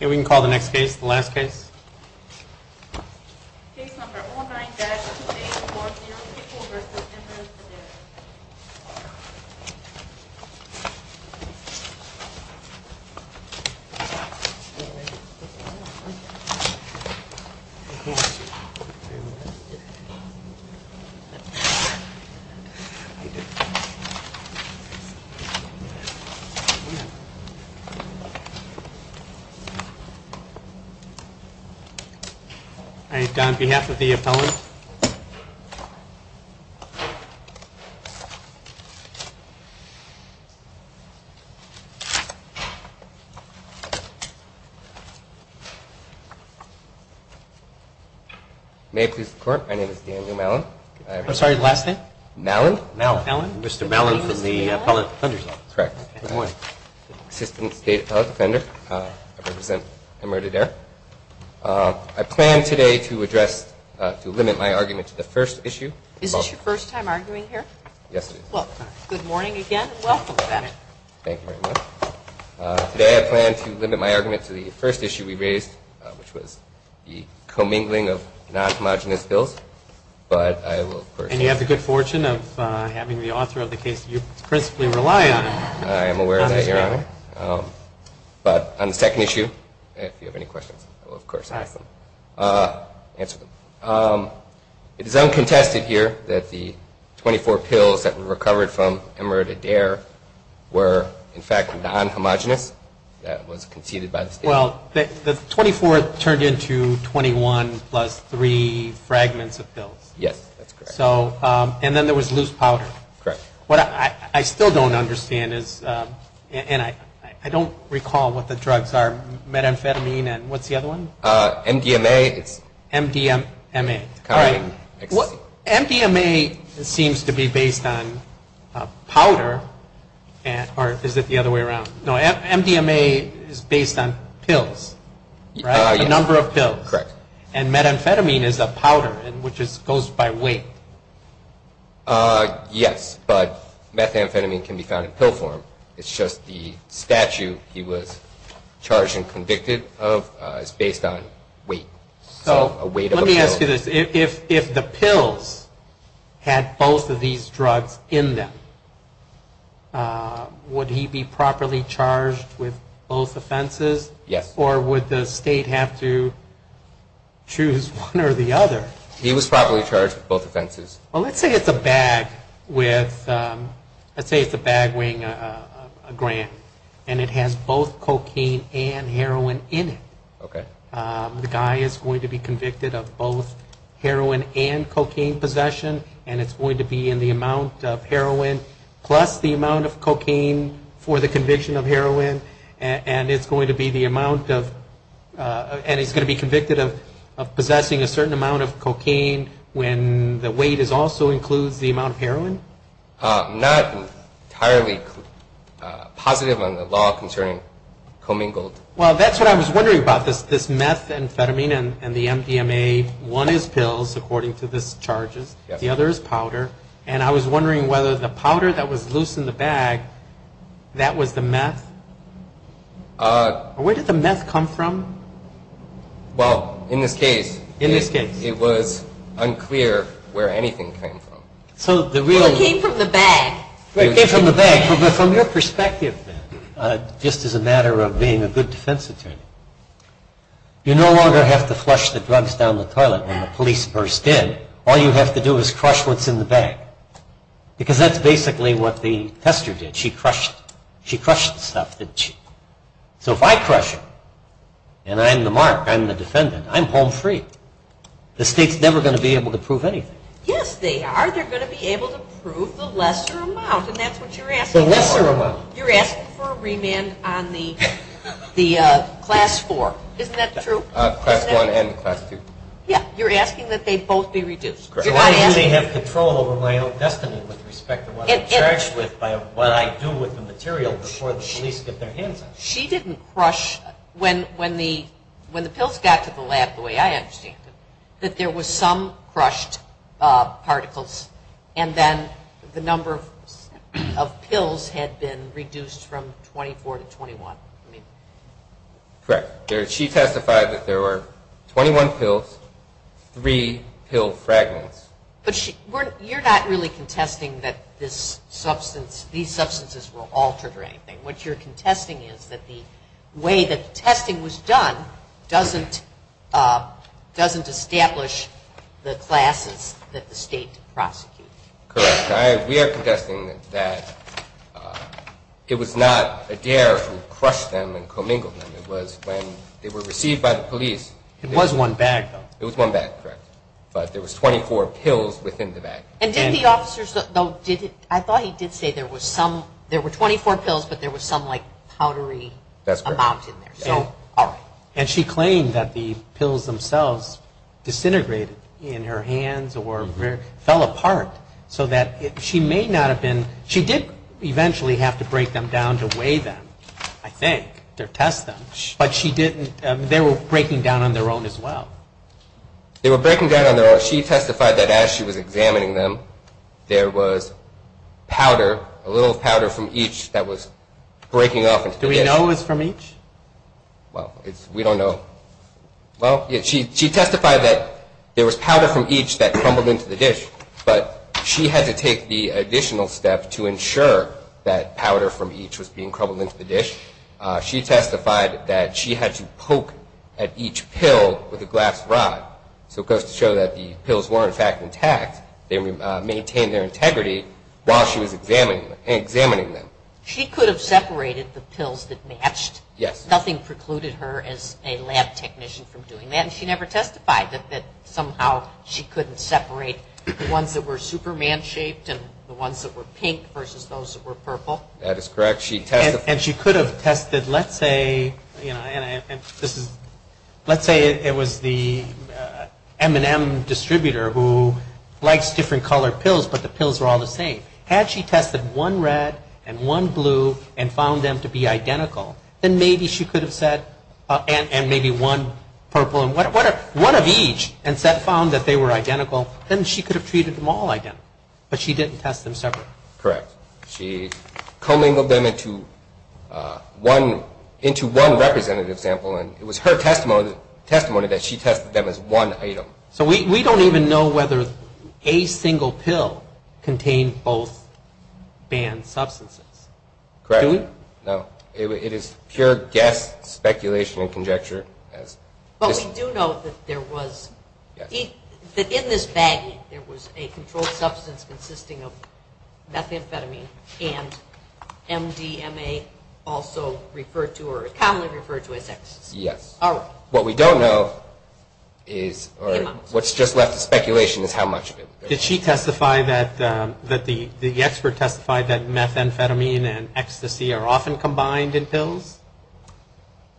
We can call the next case, the last case. All right, on behalf of the appellant. May it please the court, my name is Daniel Mallon. I'm sorry, last name? Mallon. Mr. Mallon from the Appellant Defender's Office. Correct. Good morning. Assistant State Appellant Defender. I represent Emeritus Adair. I plan today to address, to limit my argument to the first issue. Is this your first time arguing here? Yes, it is. Well, good morning again and welcome to that. Thank you very much. Today I plan to limit my argument to the first issue we raised, which was the commingling of non-homogenous bills. And you have the good fortune of having the author of the case that you principally rely on. I am aware of that, Your Honor. But on the second issue, if you have any questions, I will of course ask them. Answer them. It is uncontested here that the 24 pills that were recovered from Emeritus Adair were in fact non-homogenous. That was conceded by the State. Well, the 24 turned into 21 plus three fragments of pills. Yes, that's correct. And then there was loose powder. Correct. What I still don't understand is, and I don't recall what the drugs are, methamphetamine and what's the other one? MDMA. MDMA. All right. MDMA seems to be based on powder. Or is it the other way around? No, MDMA is based on pills, right? A number of pills. Correct. And methamphetamine is a powder which goes by weight. Yes, but methamphetamine can be found in pill form. It's just the statute he was charged and convicted of is based on weight. Let me ask you this. If the pills had both of these drugs in them, would he be properly charged with both offenses? Yes. Or would the State have to choose one or the other? He was properly charged with both offenses. Well, let's say it's a bag weighing a gram and it has both cocaine and heroin in it. Okay. The guy is going to be convicted of both heroin and cocaine possession, and it's going to be in the amount of heroin plus the amount of cocaine for the conviction of heroin, and it's going to be the amount of, and he's going to be convicted of possessing a certain amount of cocaine when the weight also includes the amount of heroin? Not entirely positive on the law concerning commingled. Well, that's what I was wondering about, this methamphetamine and the MDMA. One is pills, according to the charges. The other is powder. And I was wondering whether the powder that was loose in the bag, that was the meth? Where did the meth come from? Well, in this case, it was unclear where anything came from. It came from the bag. It came from the bag. From your perspective, then, just as a matter of being a good defense attorney, you no longer have to flush the drugs down the toilet when the police burst in. All you have to do is crush what's in the bag because that's basically what the tester did. She crushed the stuff. So if I crush it and I'm the mark, I'm the defendant, I'm home free. The state is never going to be able to prove anything. Yes, they are. Or they're going to be able to prove the lesser amount, and that's what you're asking for. The lesser amount. You're asking for a remand on the class four. Isn't that true? Class one and class two. Yeah, you're asking that they both be reduced. Why should they have control over my own destiny with respect to what I'm charged with, what I do with the material before the police get their hands on it? She didn't crush. When the pills got to the lab the way I understand it, that there was some crushed particles and then the number of pills had been reduced from 24 to 21. Correct. She testified that there were 21 pills, three pill fragments. But you're not really contesting that these substances were altered or anything. What you're contesting is that the way that the testing was done doesn't establish the classes that the state prosecuted. Correct. We are contesting that it was not Adair who crushed them and commingled them. It was when they were received by the police. It was one bag, though. It was one bag, correct. But there was 24 pills within the bag. I thought he did say there were 24 pills but there was some powdery amount in there. And she claimed that the pills themselves disintegrated in her hands or fell apart so that she may not have been she did eventually have to break them down to weigh them, I think, to test them. But they were breaking down on their own as well. They were breaking down on their own. She testified that as she was examining them, there was powder, a little powder from each that was breaking off. Do we know it was from each? Well, we don't know. Well, she testified that there was powder from each that crumbled into the dish, but she had to take the additional step to ensure that powder from each was being crumbled into the dish. She testified that she had to poke at each pill with a glass rod. So it goes to show that the pills were, in fact, intact. They maintained their integrity while she was examining them. She could have separated the pills that matched. Yes. Nothing precluded her as a lab technician from doing that. And she never testified that somehow she couldn't separate the ones that were Superman-shaped and the ones that were pink versus those that were purple. That is correct. And she could have tested, let's say, you know, and this is, let's say it was the M&M distributor who likes different colored pills, but the pills were all the same. Had she tested one red and one blue and found them to be identical, then maybe she could have said, and maybe one purple and one of each and found that they were identical, then she could have treated them all identical. But she didn't test them separately. Correct. She commingled them into one representative sample, and it was her testimony that she tested them as one item. So we don't even know whether a single pill contained both banned substances. Correct. Do we? No. It is pure guess, speculation, and conjecture. But we do know that there was, that in this baggie, there was a controlled substance consisting of methamphetamine and MDMA also referred to or commonly referred to as ecstasy. Yes. All right. What we don't know is, or what's just left is speculation is how much of it. Did she testify that, that the expert testified that methamphetamine and ecstasy are often combined in pills?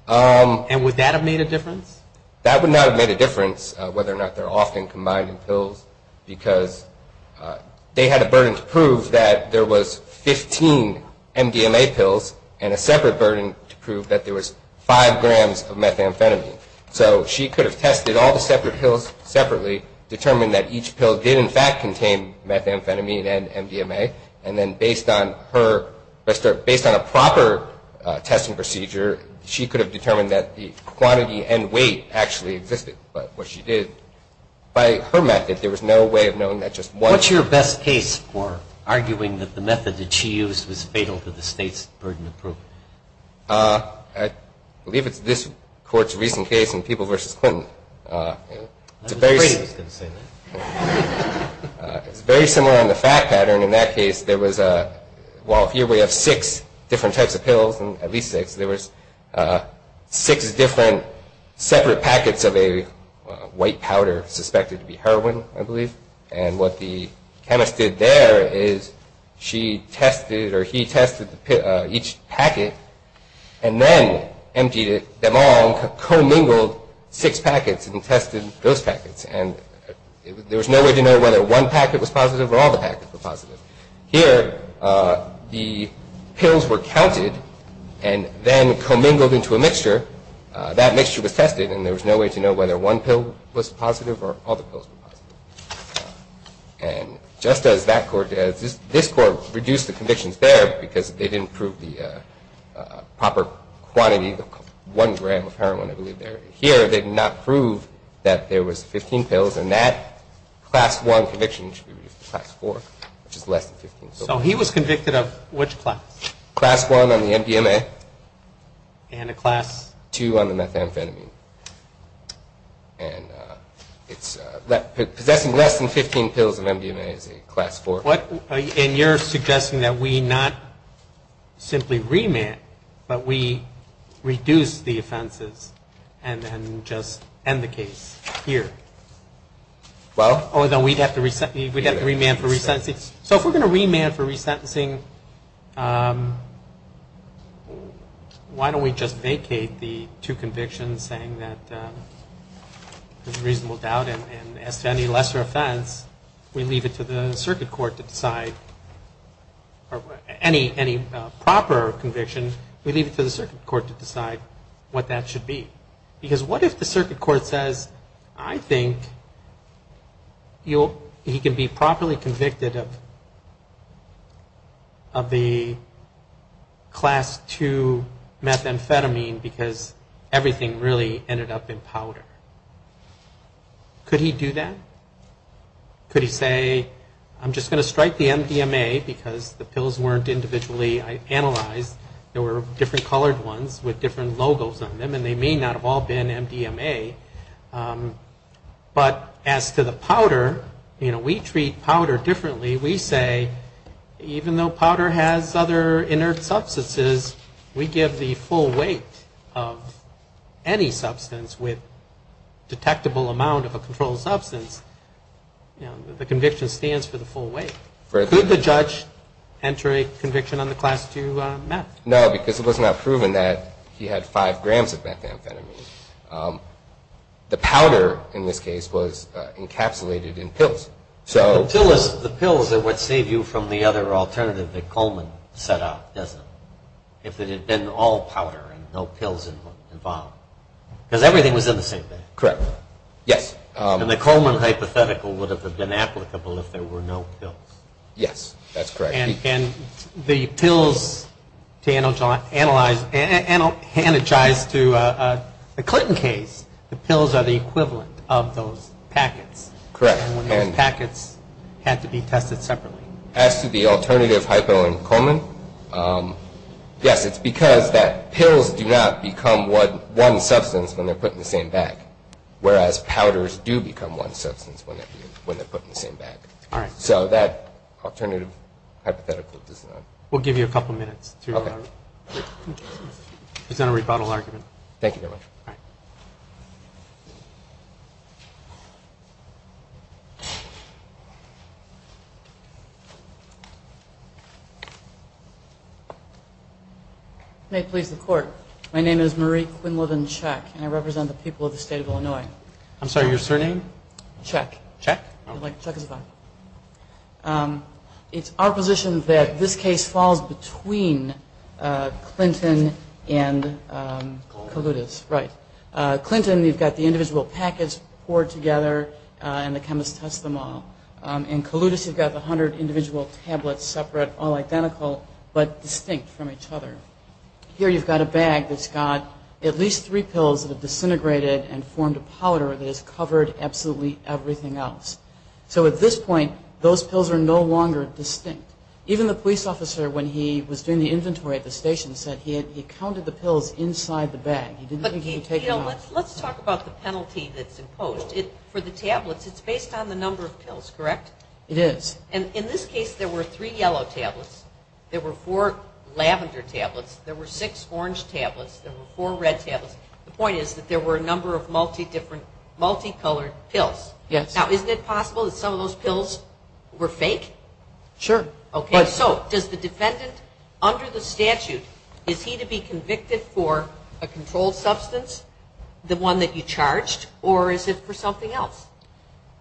And would that have made a difference? That would not have made a difference, whether or not they're often combined in pills, because they had a burden to prove that there was 15 MDMA pills and a separate burden to prove that there was 5 grams of methamphetamine. So she could have tested all the separate pills separately, determined that each pill did, in fact, contain methamphetamine and MDMA, and then based on her, based on a proper testing procedure, she could have determined that the quantity and weight actually existed. But what she did, by her method, there was no way of knowing that just one. What's your best case for arguing that the method that she used was fatal to the state's burden to prove? I believe it's this court's recent case in People v. Clinton. I was afraid he was going to say that. It's very similar on the fact pattern. In that case, there was a, well, here we have six different types of pills, at least six. There was six different separate packets of a white powder, suspected to be heroin, I believe. And what the chemist did there is she tested or he tested each packet and then emptied them all and commingled six packets and tested those packets. And there was no way to know whether one packet was positive or all the packets were positive. Here, the pills were counted and then commingled into a mixture. That mixture was tested, and there was no way to know whether one pill was positive or all the pills were positive. And just as this court reduced the convictions there because they didn't prove the proper quantity, one gram of heroin, I believe, there. Here, they did not prove that there was 15 pills, and that class one conviction should be reduced to class four, which is less than 15. So he was convicted of which class? Class one on the MDMA. And a class? Two on the methamphetamine. Possessing less than 15 pills of MDMA is a class four. And you're suggesting that we not simply remand, but we reduce the offenses and then just end the case here? Oh, then we'd have to remand for resentencing? So if we're going to remand for resentencing, why don't we just vacate the two convictions saying that there's reasonable doubt? And as to any lesser offense, we leave it to the circuit court to decide. Or any proper conviction, we leave it to the circuit court to decide what that should be. Because what if the circuit court says, I think he can be properly convicted of the class two methamphetamine because everything really ended up in powder? Could he do that? Could he say, I'm just going to strike the MDMA because the pills weren't individually analyzed. There were different colored ones with different logos on them, and they may not have all been MDMA. But as to the powder, you know, we treat powder differently. We say, even though powder has other inert substances, we give the full weight of any substance with detectable amount of a controlled substance. The conviction stands for the full weight. Could the judge enter a conviction on the class two meth? No, because it was not proven that he had five grams of methamphetamine. The powder, in this case, was encapsulated in pills. The pills are what save you from the other alternative that Coleman set out, isn't it? If it had been all powder and no pills involved. Because everything was in the same bag. Correct, yes. And the Coleman hypothetical would have been applicable if there were no pills. Yes, that's correct. And the pills, to analogize to the Clinton case, the pills are the equivalent of those packets. Correct. And those packets had to be tested separately. As to the alternative hypo and Coleman, yes, it's because that pills do not become one substance when they're put in the same bag, whereas powders do become one substance when they're put in the same bag. All right. So that alternative hypothetical does not. We'll give you a couple minutes to present a rebuttal argument. Thank you very much. All right. May it please the Court. My name is Marie Quinlivan Chek, and I represent the people of the state of Illinois. I'm sorry, your surname? Chek. Chek? Chek is fine. It's our position that this case falls between Clinton and Kalutis. Right. Clinton, you've got the individual packets poured together, and the chemists test them all. And Kalutis, you've got the hundred individual tablets separate, all identical, but distinct from each other. Here you've got a bag that's got at least three pills that have disintegrated and formed a powder that has covered absolutely everything else. So at this point, those pills are no longer distinct. Even the police officer, when he was doing the inventory at the station, said he counted the pills inside the bag. He didn't think he could take them out. But, you know, let's talk about the penalty that's imposed. For the tablets, it's based on the number of pills, correct? It is. And in this case, there were three yellow tablets. There were four lavender tablets. There were six orange tablets. There were four red tablets. The point is that there were a number of multi-colored pills. Yes. Now, isn't it possible that some of those pills were fake? Sure. Okay, so does the defendant, under the statute, is he to be convicted for a controlled substance, the one that you charged, or is it for something else?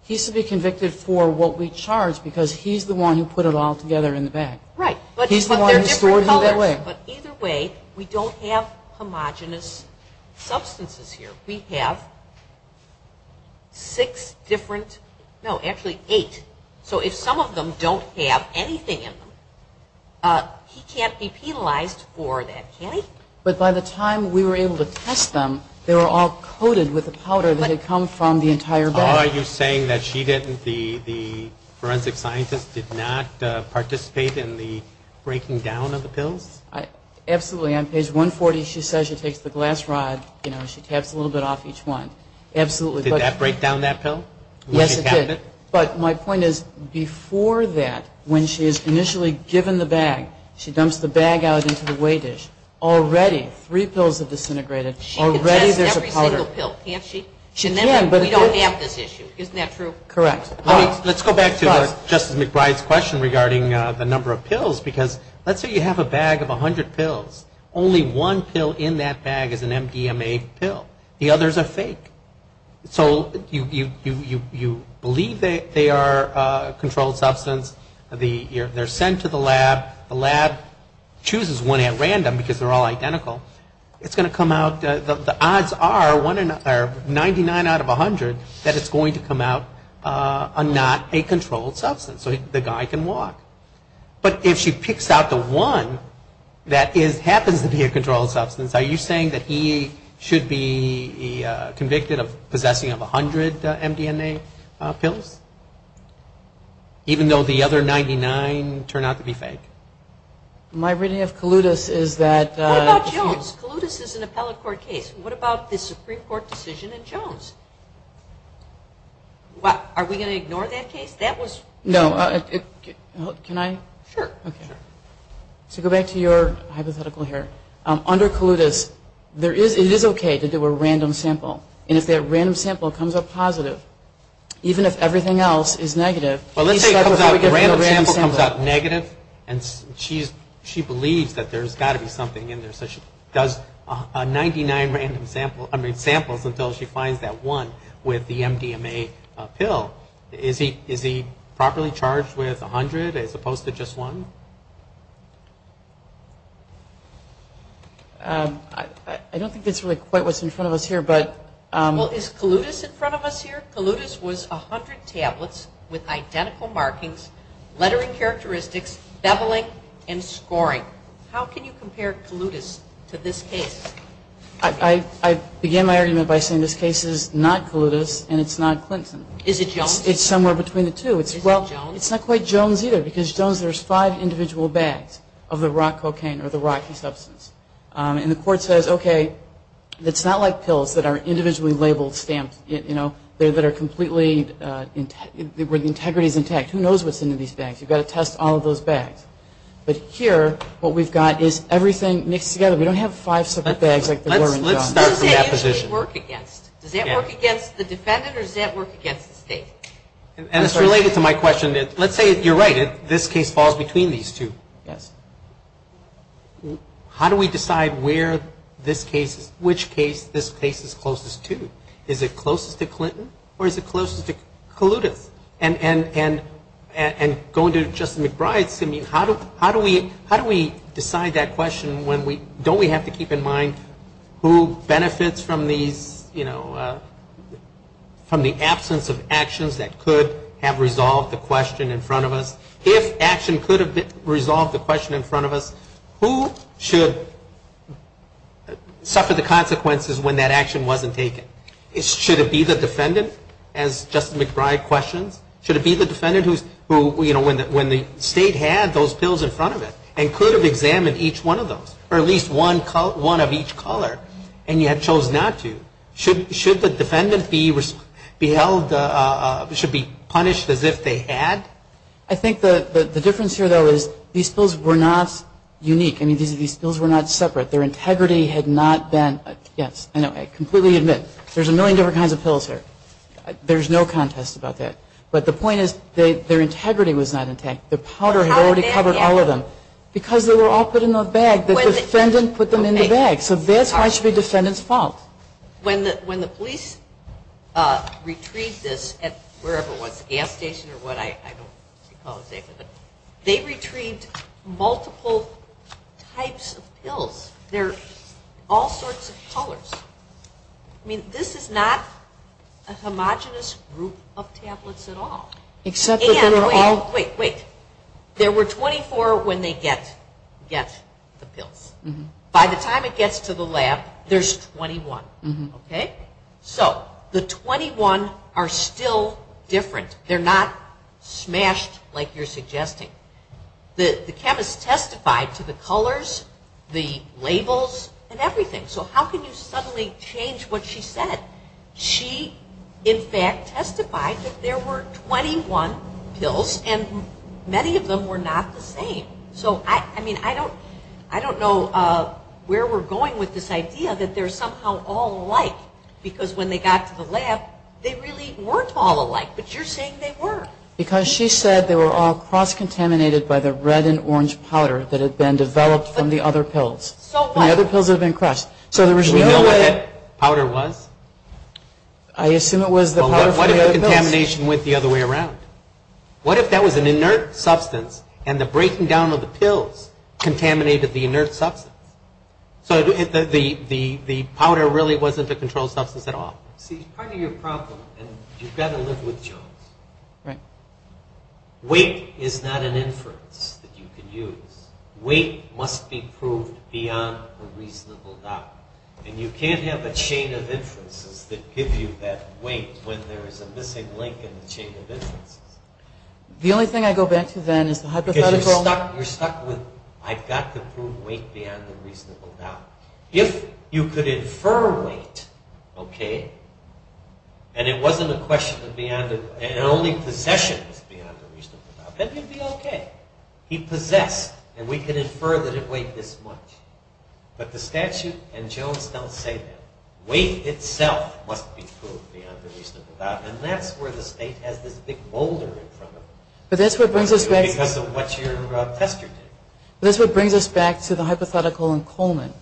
He's to be convicted for what we charged, because he's the one who put it all together in the bag. Right. He's the one who stored them that way. But either way, we don't have homogenous substances here. We have six different, no, actually eight. So if some of them don't have anything in them, he can't be penalized for that. Can he? But by the time we were able to test them, they were all coated with a powder that had come from the entire bag. Are you saying that she didn't, the forensic scientist did not participate in the breaking down of the pills? Absolutely. On page 140, she says she takes the glass rod, you know, and she taps a little bit off each one. Did that break down that pill? Yes, it did. But my point is, before that, when she is initially given the bag, she dumps the bag out into the weigh dish. Already three pills have disintegrated. She can test every single pill, can't she? She can, but we don't have this issue. Isn't that true? Correct. Let's go back to Justice McBride's question regarding the number of pills, because let's say you have a bag of 100 pills. Only one pill in that bag is an MDMA pill. The others are fake. So you believe they are a controlled substance. They're sent to the lab. The lab chooses one at random because they're all identical. It's going to come out, the odds are 99 out of 100 that it's going to come out not a controlled substance. So the guy can walk. But if she picks out the one that happens to be a controlled substance, are you saying that he should be convicted of possessing of 100 MDMA pills, even though the other 99 turn out to be fake? My reading of Kalutis is that... What about Jones? Kalutis is an appellate court case. What about the Supreme Court decision in Jones? Are we going to ignore that case? No. Can I? Sure. Okay. So go back to your hypothetical here. Under Kalutis, it is okay to do a random sample. And if that random sample comes up positive, even if everything else is negative... Well, let's say a random sample comes up negative and she believes that there's got to be something in there. So she does 99 random samples until she finds that one with the MDMA pill. Is he properly charged with 100 as opposed to just one? I don't think that's really quite what's in front of us here, but... Well, is Kalutis in front of us here? Kalutis was 100 tablets with identical markings, lettering characteristics, beveling, and scoring. How can you compare Kalutis to this case? I began my argument by saying this case is not Kalutis and it's not Clinton. Is it Jones? It's somewhere between the two. Is it Jones? Well, it's not quite Jones either, because Jones, there's five individual bags of the rock cocaine or the rocky substance. And the court says, okay, it's not like pills that are individually labeled, stamped, you know, that are completely integrity is intact. Who knows what's in these bags? You've got to test all of those bags. But here, what we've got is everything mixed together. We don't have five separate bags like there were in Jones. Let's start from that position. Does that usually work against? Does that work against the defendant or does that work against the state? And it's related to my question. Let's say, you're right, this case falls between these two. Yes. How do we decide where this case is, which case this case is closest to? Is it closest to Clinton or is it closest to Kalutis? And going to Justice McBride, how do we decide that question when we, don't we have to keep in mind who benefits from these, you know, from the absence of actions that could have resolved the question in front of us? If action could have resolved the question in front of us, who should suffer the consequences when that action wasn't taken? Should it be the defendant, as Justice McBride questions? Should it be the defendant who, you know, when the state had those pills in front of it and could have examined each one of those or at least one of each color and yet chose not to? Should the defendant be held, should be punished as if they had? I think the difference here, though, is these pills were not unique. I mean, these pills were not separate. Their integrity had not been, yes, I know, I completely admit, there's a million different kinds of pills here. There's no contest about that. But the point is their integrity was not intact. The powder had already covered all of them. Because they were all put in a bag, the defendant put them in the bag. So that's why it should be the defendant's fault. When the police retrieved this at wherever it was, gas station or what, I don't recall exactly, but they retrieved multiple types of pills. They're all sorts of colors. I mean, this is not a homogenous group of tablets at all. And wait, wait, wait. There were 24 when they get the pills. By the time it gets to the lab, there's 21. So the 21 are still different. They're not smashed like you're suggesting. The chemist testified to the colors, the labels, and everything. So how can you suddenly change what she said? She, in fact, testified that there were 21 pills, and many of them were not the same. So, I mean, I don't know where we're going with this idea that they're somehow all alike. Because when they got to the lab, they really weren't all alike. But you're saying they were. Because she said they were all cross-contaminated by the red and orange powder that had been developed from the other pills. So what? The other pills had been crushed. Do we know what that powder was? I assume it was the powder from the other pills. Well, what if the contamination went the other way around? What if that was an inert substance, and the breaking down of the pills contaminated the inert substance? So the powder really wasn't a controlled substance at all. See, part of your problem, and you've got to live with Jones, weight is not an inference that you can use. Weight must be proved beyond a reasonable doubt. And you can't have a chain of inferences that give you that weight when there is a missing link in the chain of inferences. The only thing I go back to then is the hypothetical. Because you're stuck with, I've got to prove weight beyond a reasonable doubt. If you could infer weight, okay, and it wasn't a question of beyond a reasonable doubt, and only possession was beyond a reasonable doubt, then you'd be okay. He possessed, and we could infer that it weighed this much. But the statute and Jones don't say that. Weight itself must be proved beyond a reasonable doubt. And that's where the state has this big boulder in front of them. But that's what brings us back to the hypothetical in Coleman.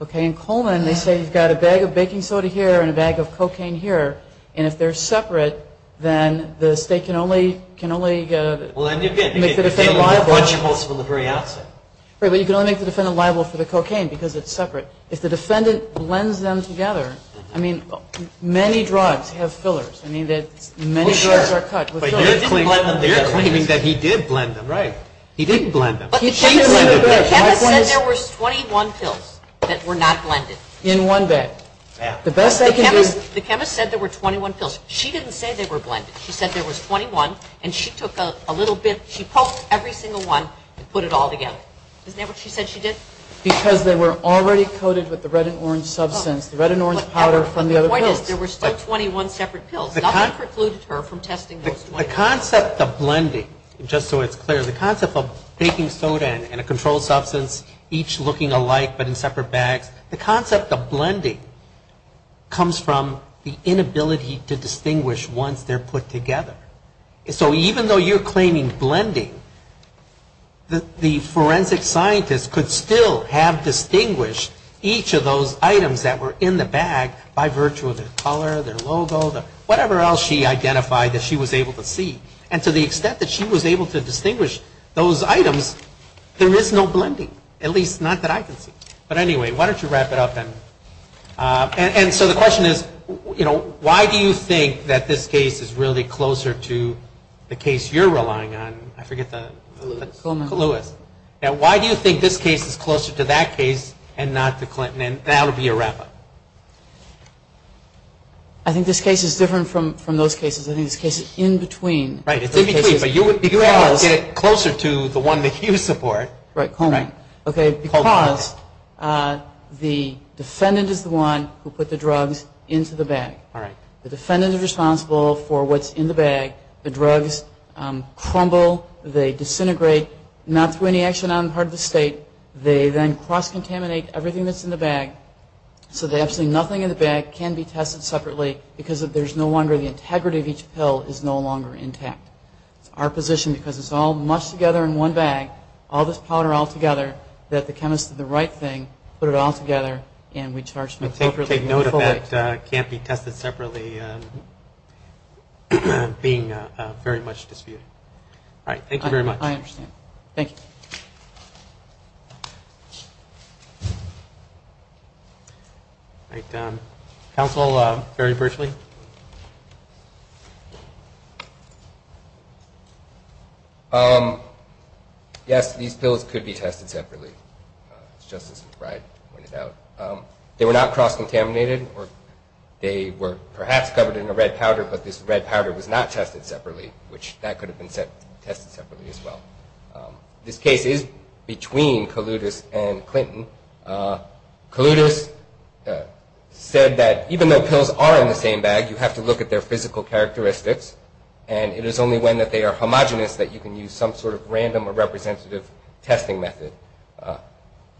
Okay, in Coleman they say you've got a bag of baking soda here and a bag of cocaine here, and if they're separate, then the state can only make the defendant liable for the cocaine because it's separate. If the defendant blends them together, I mean, many drugs have fillers. I mean, many drugs are cut with fillers. You're claiming that he did blend them. Right. He didn't blend them. But the chemist said there were 21 pills that were not blended. In one bag. The chemist said there were 21 pills. She didn't say they were blended. She said there was 21, and she took a little bit. She poked every single one and put it all together. Isn't that what she said she did? Because they were already coated with the red and orange substance, the red and orange powder from the other pills. But the point is there were still 21 separate pills. Nothing precluded her from testing those 21. The concept of blending, just so it's clear, the concept of baking soda and a controlled substance each looking alike but in separate bags, the concept of blending comes from the inability to distinguish once they're put together. So even though you're claiming blending, the forensic scientist could still have distinguished each of those items that were in the bag by virtue of their color, their logo, whatever else she identified that she was able to see. And to the extent that she was able to distinguish those items, there is no blending, at least not that I can see. But anyway, why don't you wrap it up, then? And so the question is, you know, why do you think that this case is really closer to the case you're relying on? Coluis. Coluis. Now, why do you think this case is closer to that case and not to Clinton? And that will be a wrap-up. I think this case is different from those cases. I think this case is in between. Right. It's in between, but you would get it closer to the one that you support. Right, Coluis. Right. Okay, because the defendant is the one who put the drugs into the bag. All right. The defendant is responsible for what's in the bag. The drugs crumble. They disintegrate, not through any action on the part of the State. They then cross-contaminate everything that's in the bag, so that absolutely nothing in the bag can be tested separately, because there's no wonder the integrity of each pill is no longer intact. It's our position, because it's all mushed together in one bag, all this powder all together, that the chemist did the right thing, put it all together, and we charged them appropriately. Take note of that can't be tested separately being very much disputed. All right. Thank you very much. I understand. Thank you. All right. Counsel, Barry Berchley. Yes, these pills could be tested separately, as Justice Brey pointed out. They were not cross-contaminated. They were perhaps covered in a red powder, but this red powder was not tested separately, which that could have been tested separately as well. This case is between Kaloudis and Clinton. Kaloudis said that even though pills are in the same bag, you have to look at their physical characteristics, and it is only when that they are homogenous that you can use some sort of random or representative testing method.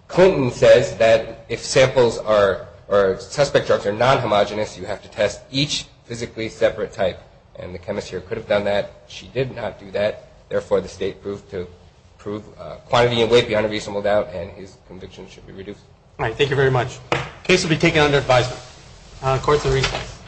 Clinton says that if samples or suspect drugs are non-homogenous, you have to test each physically separate type, and the chemist here could have done that. She did not do that. Therefore, the State proved to prove quantity and weight beyond a reasonable doubt, and his conviction should be reduced. All right. Thank you very much. The case will be taken under advisement. Court is in recess.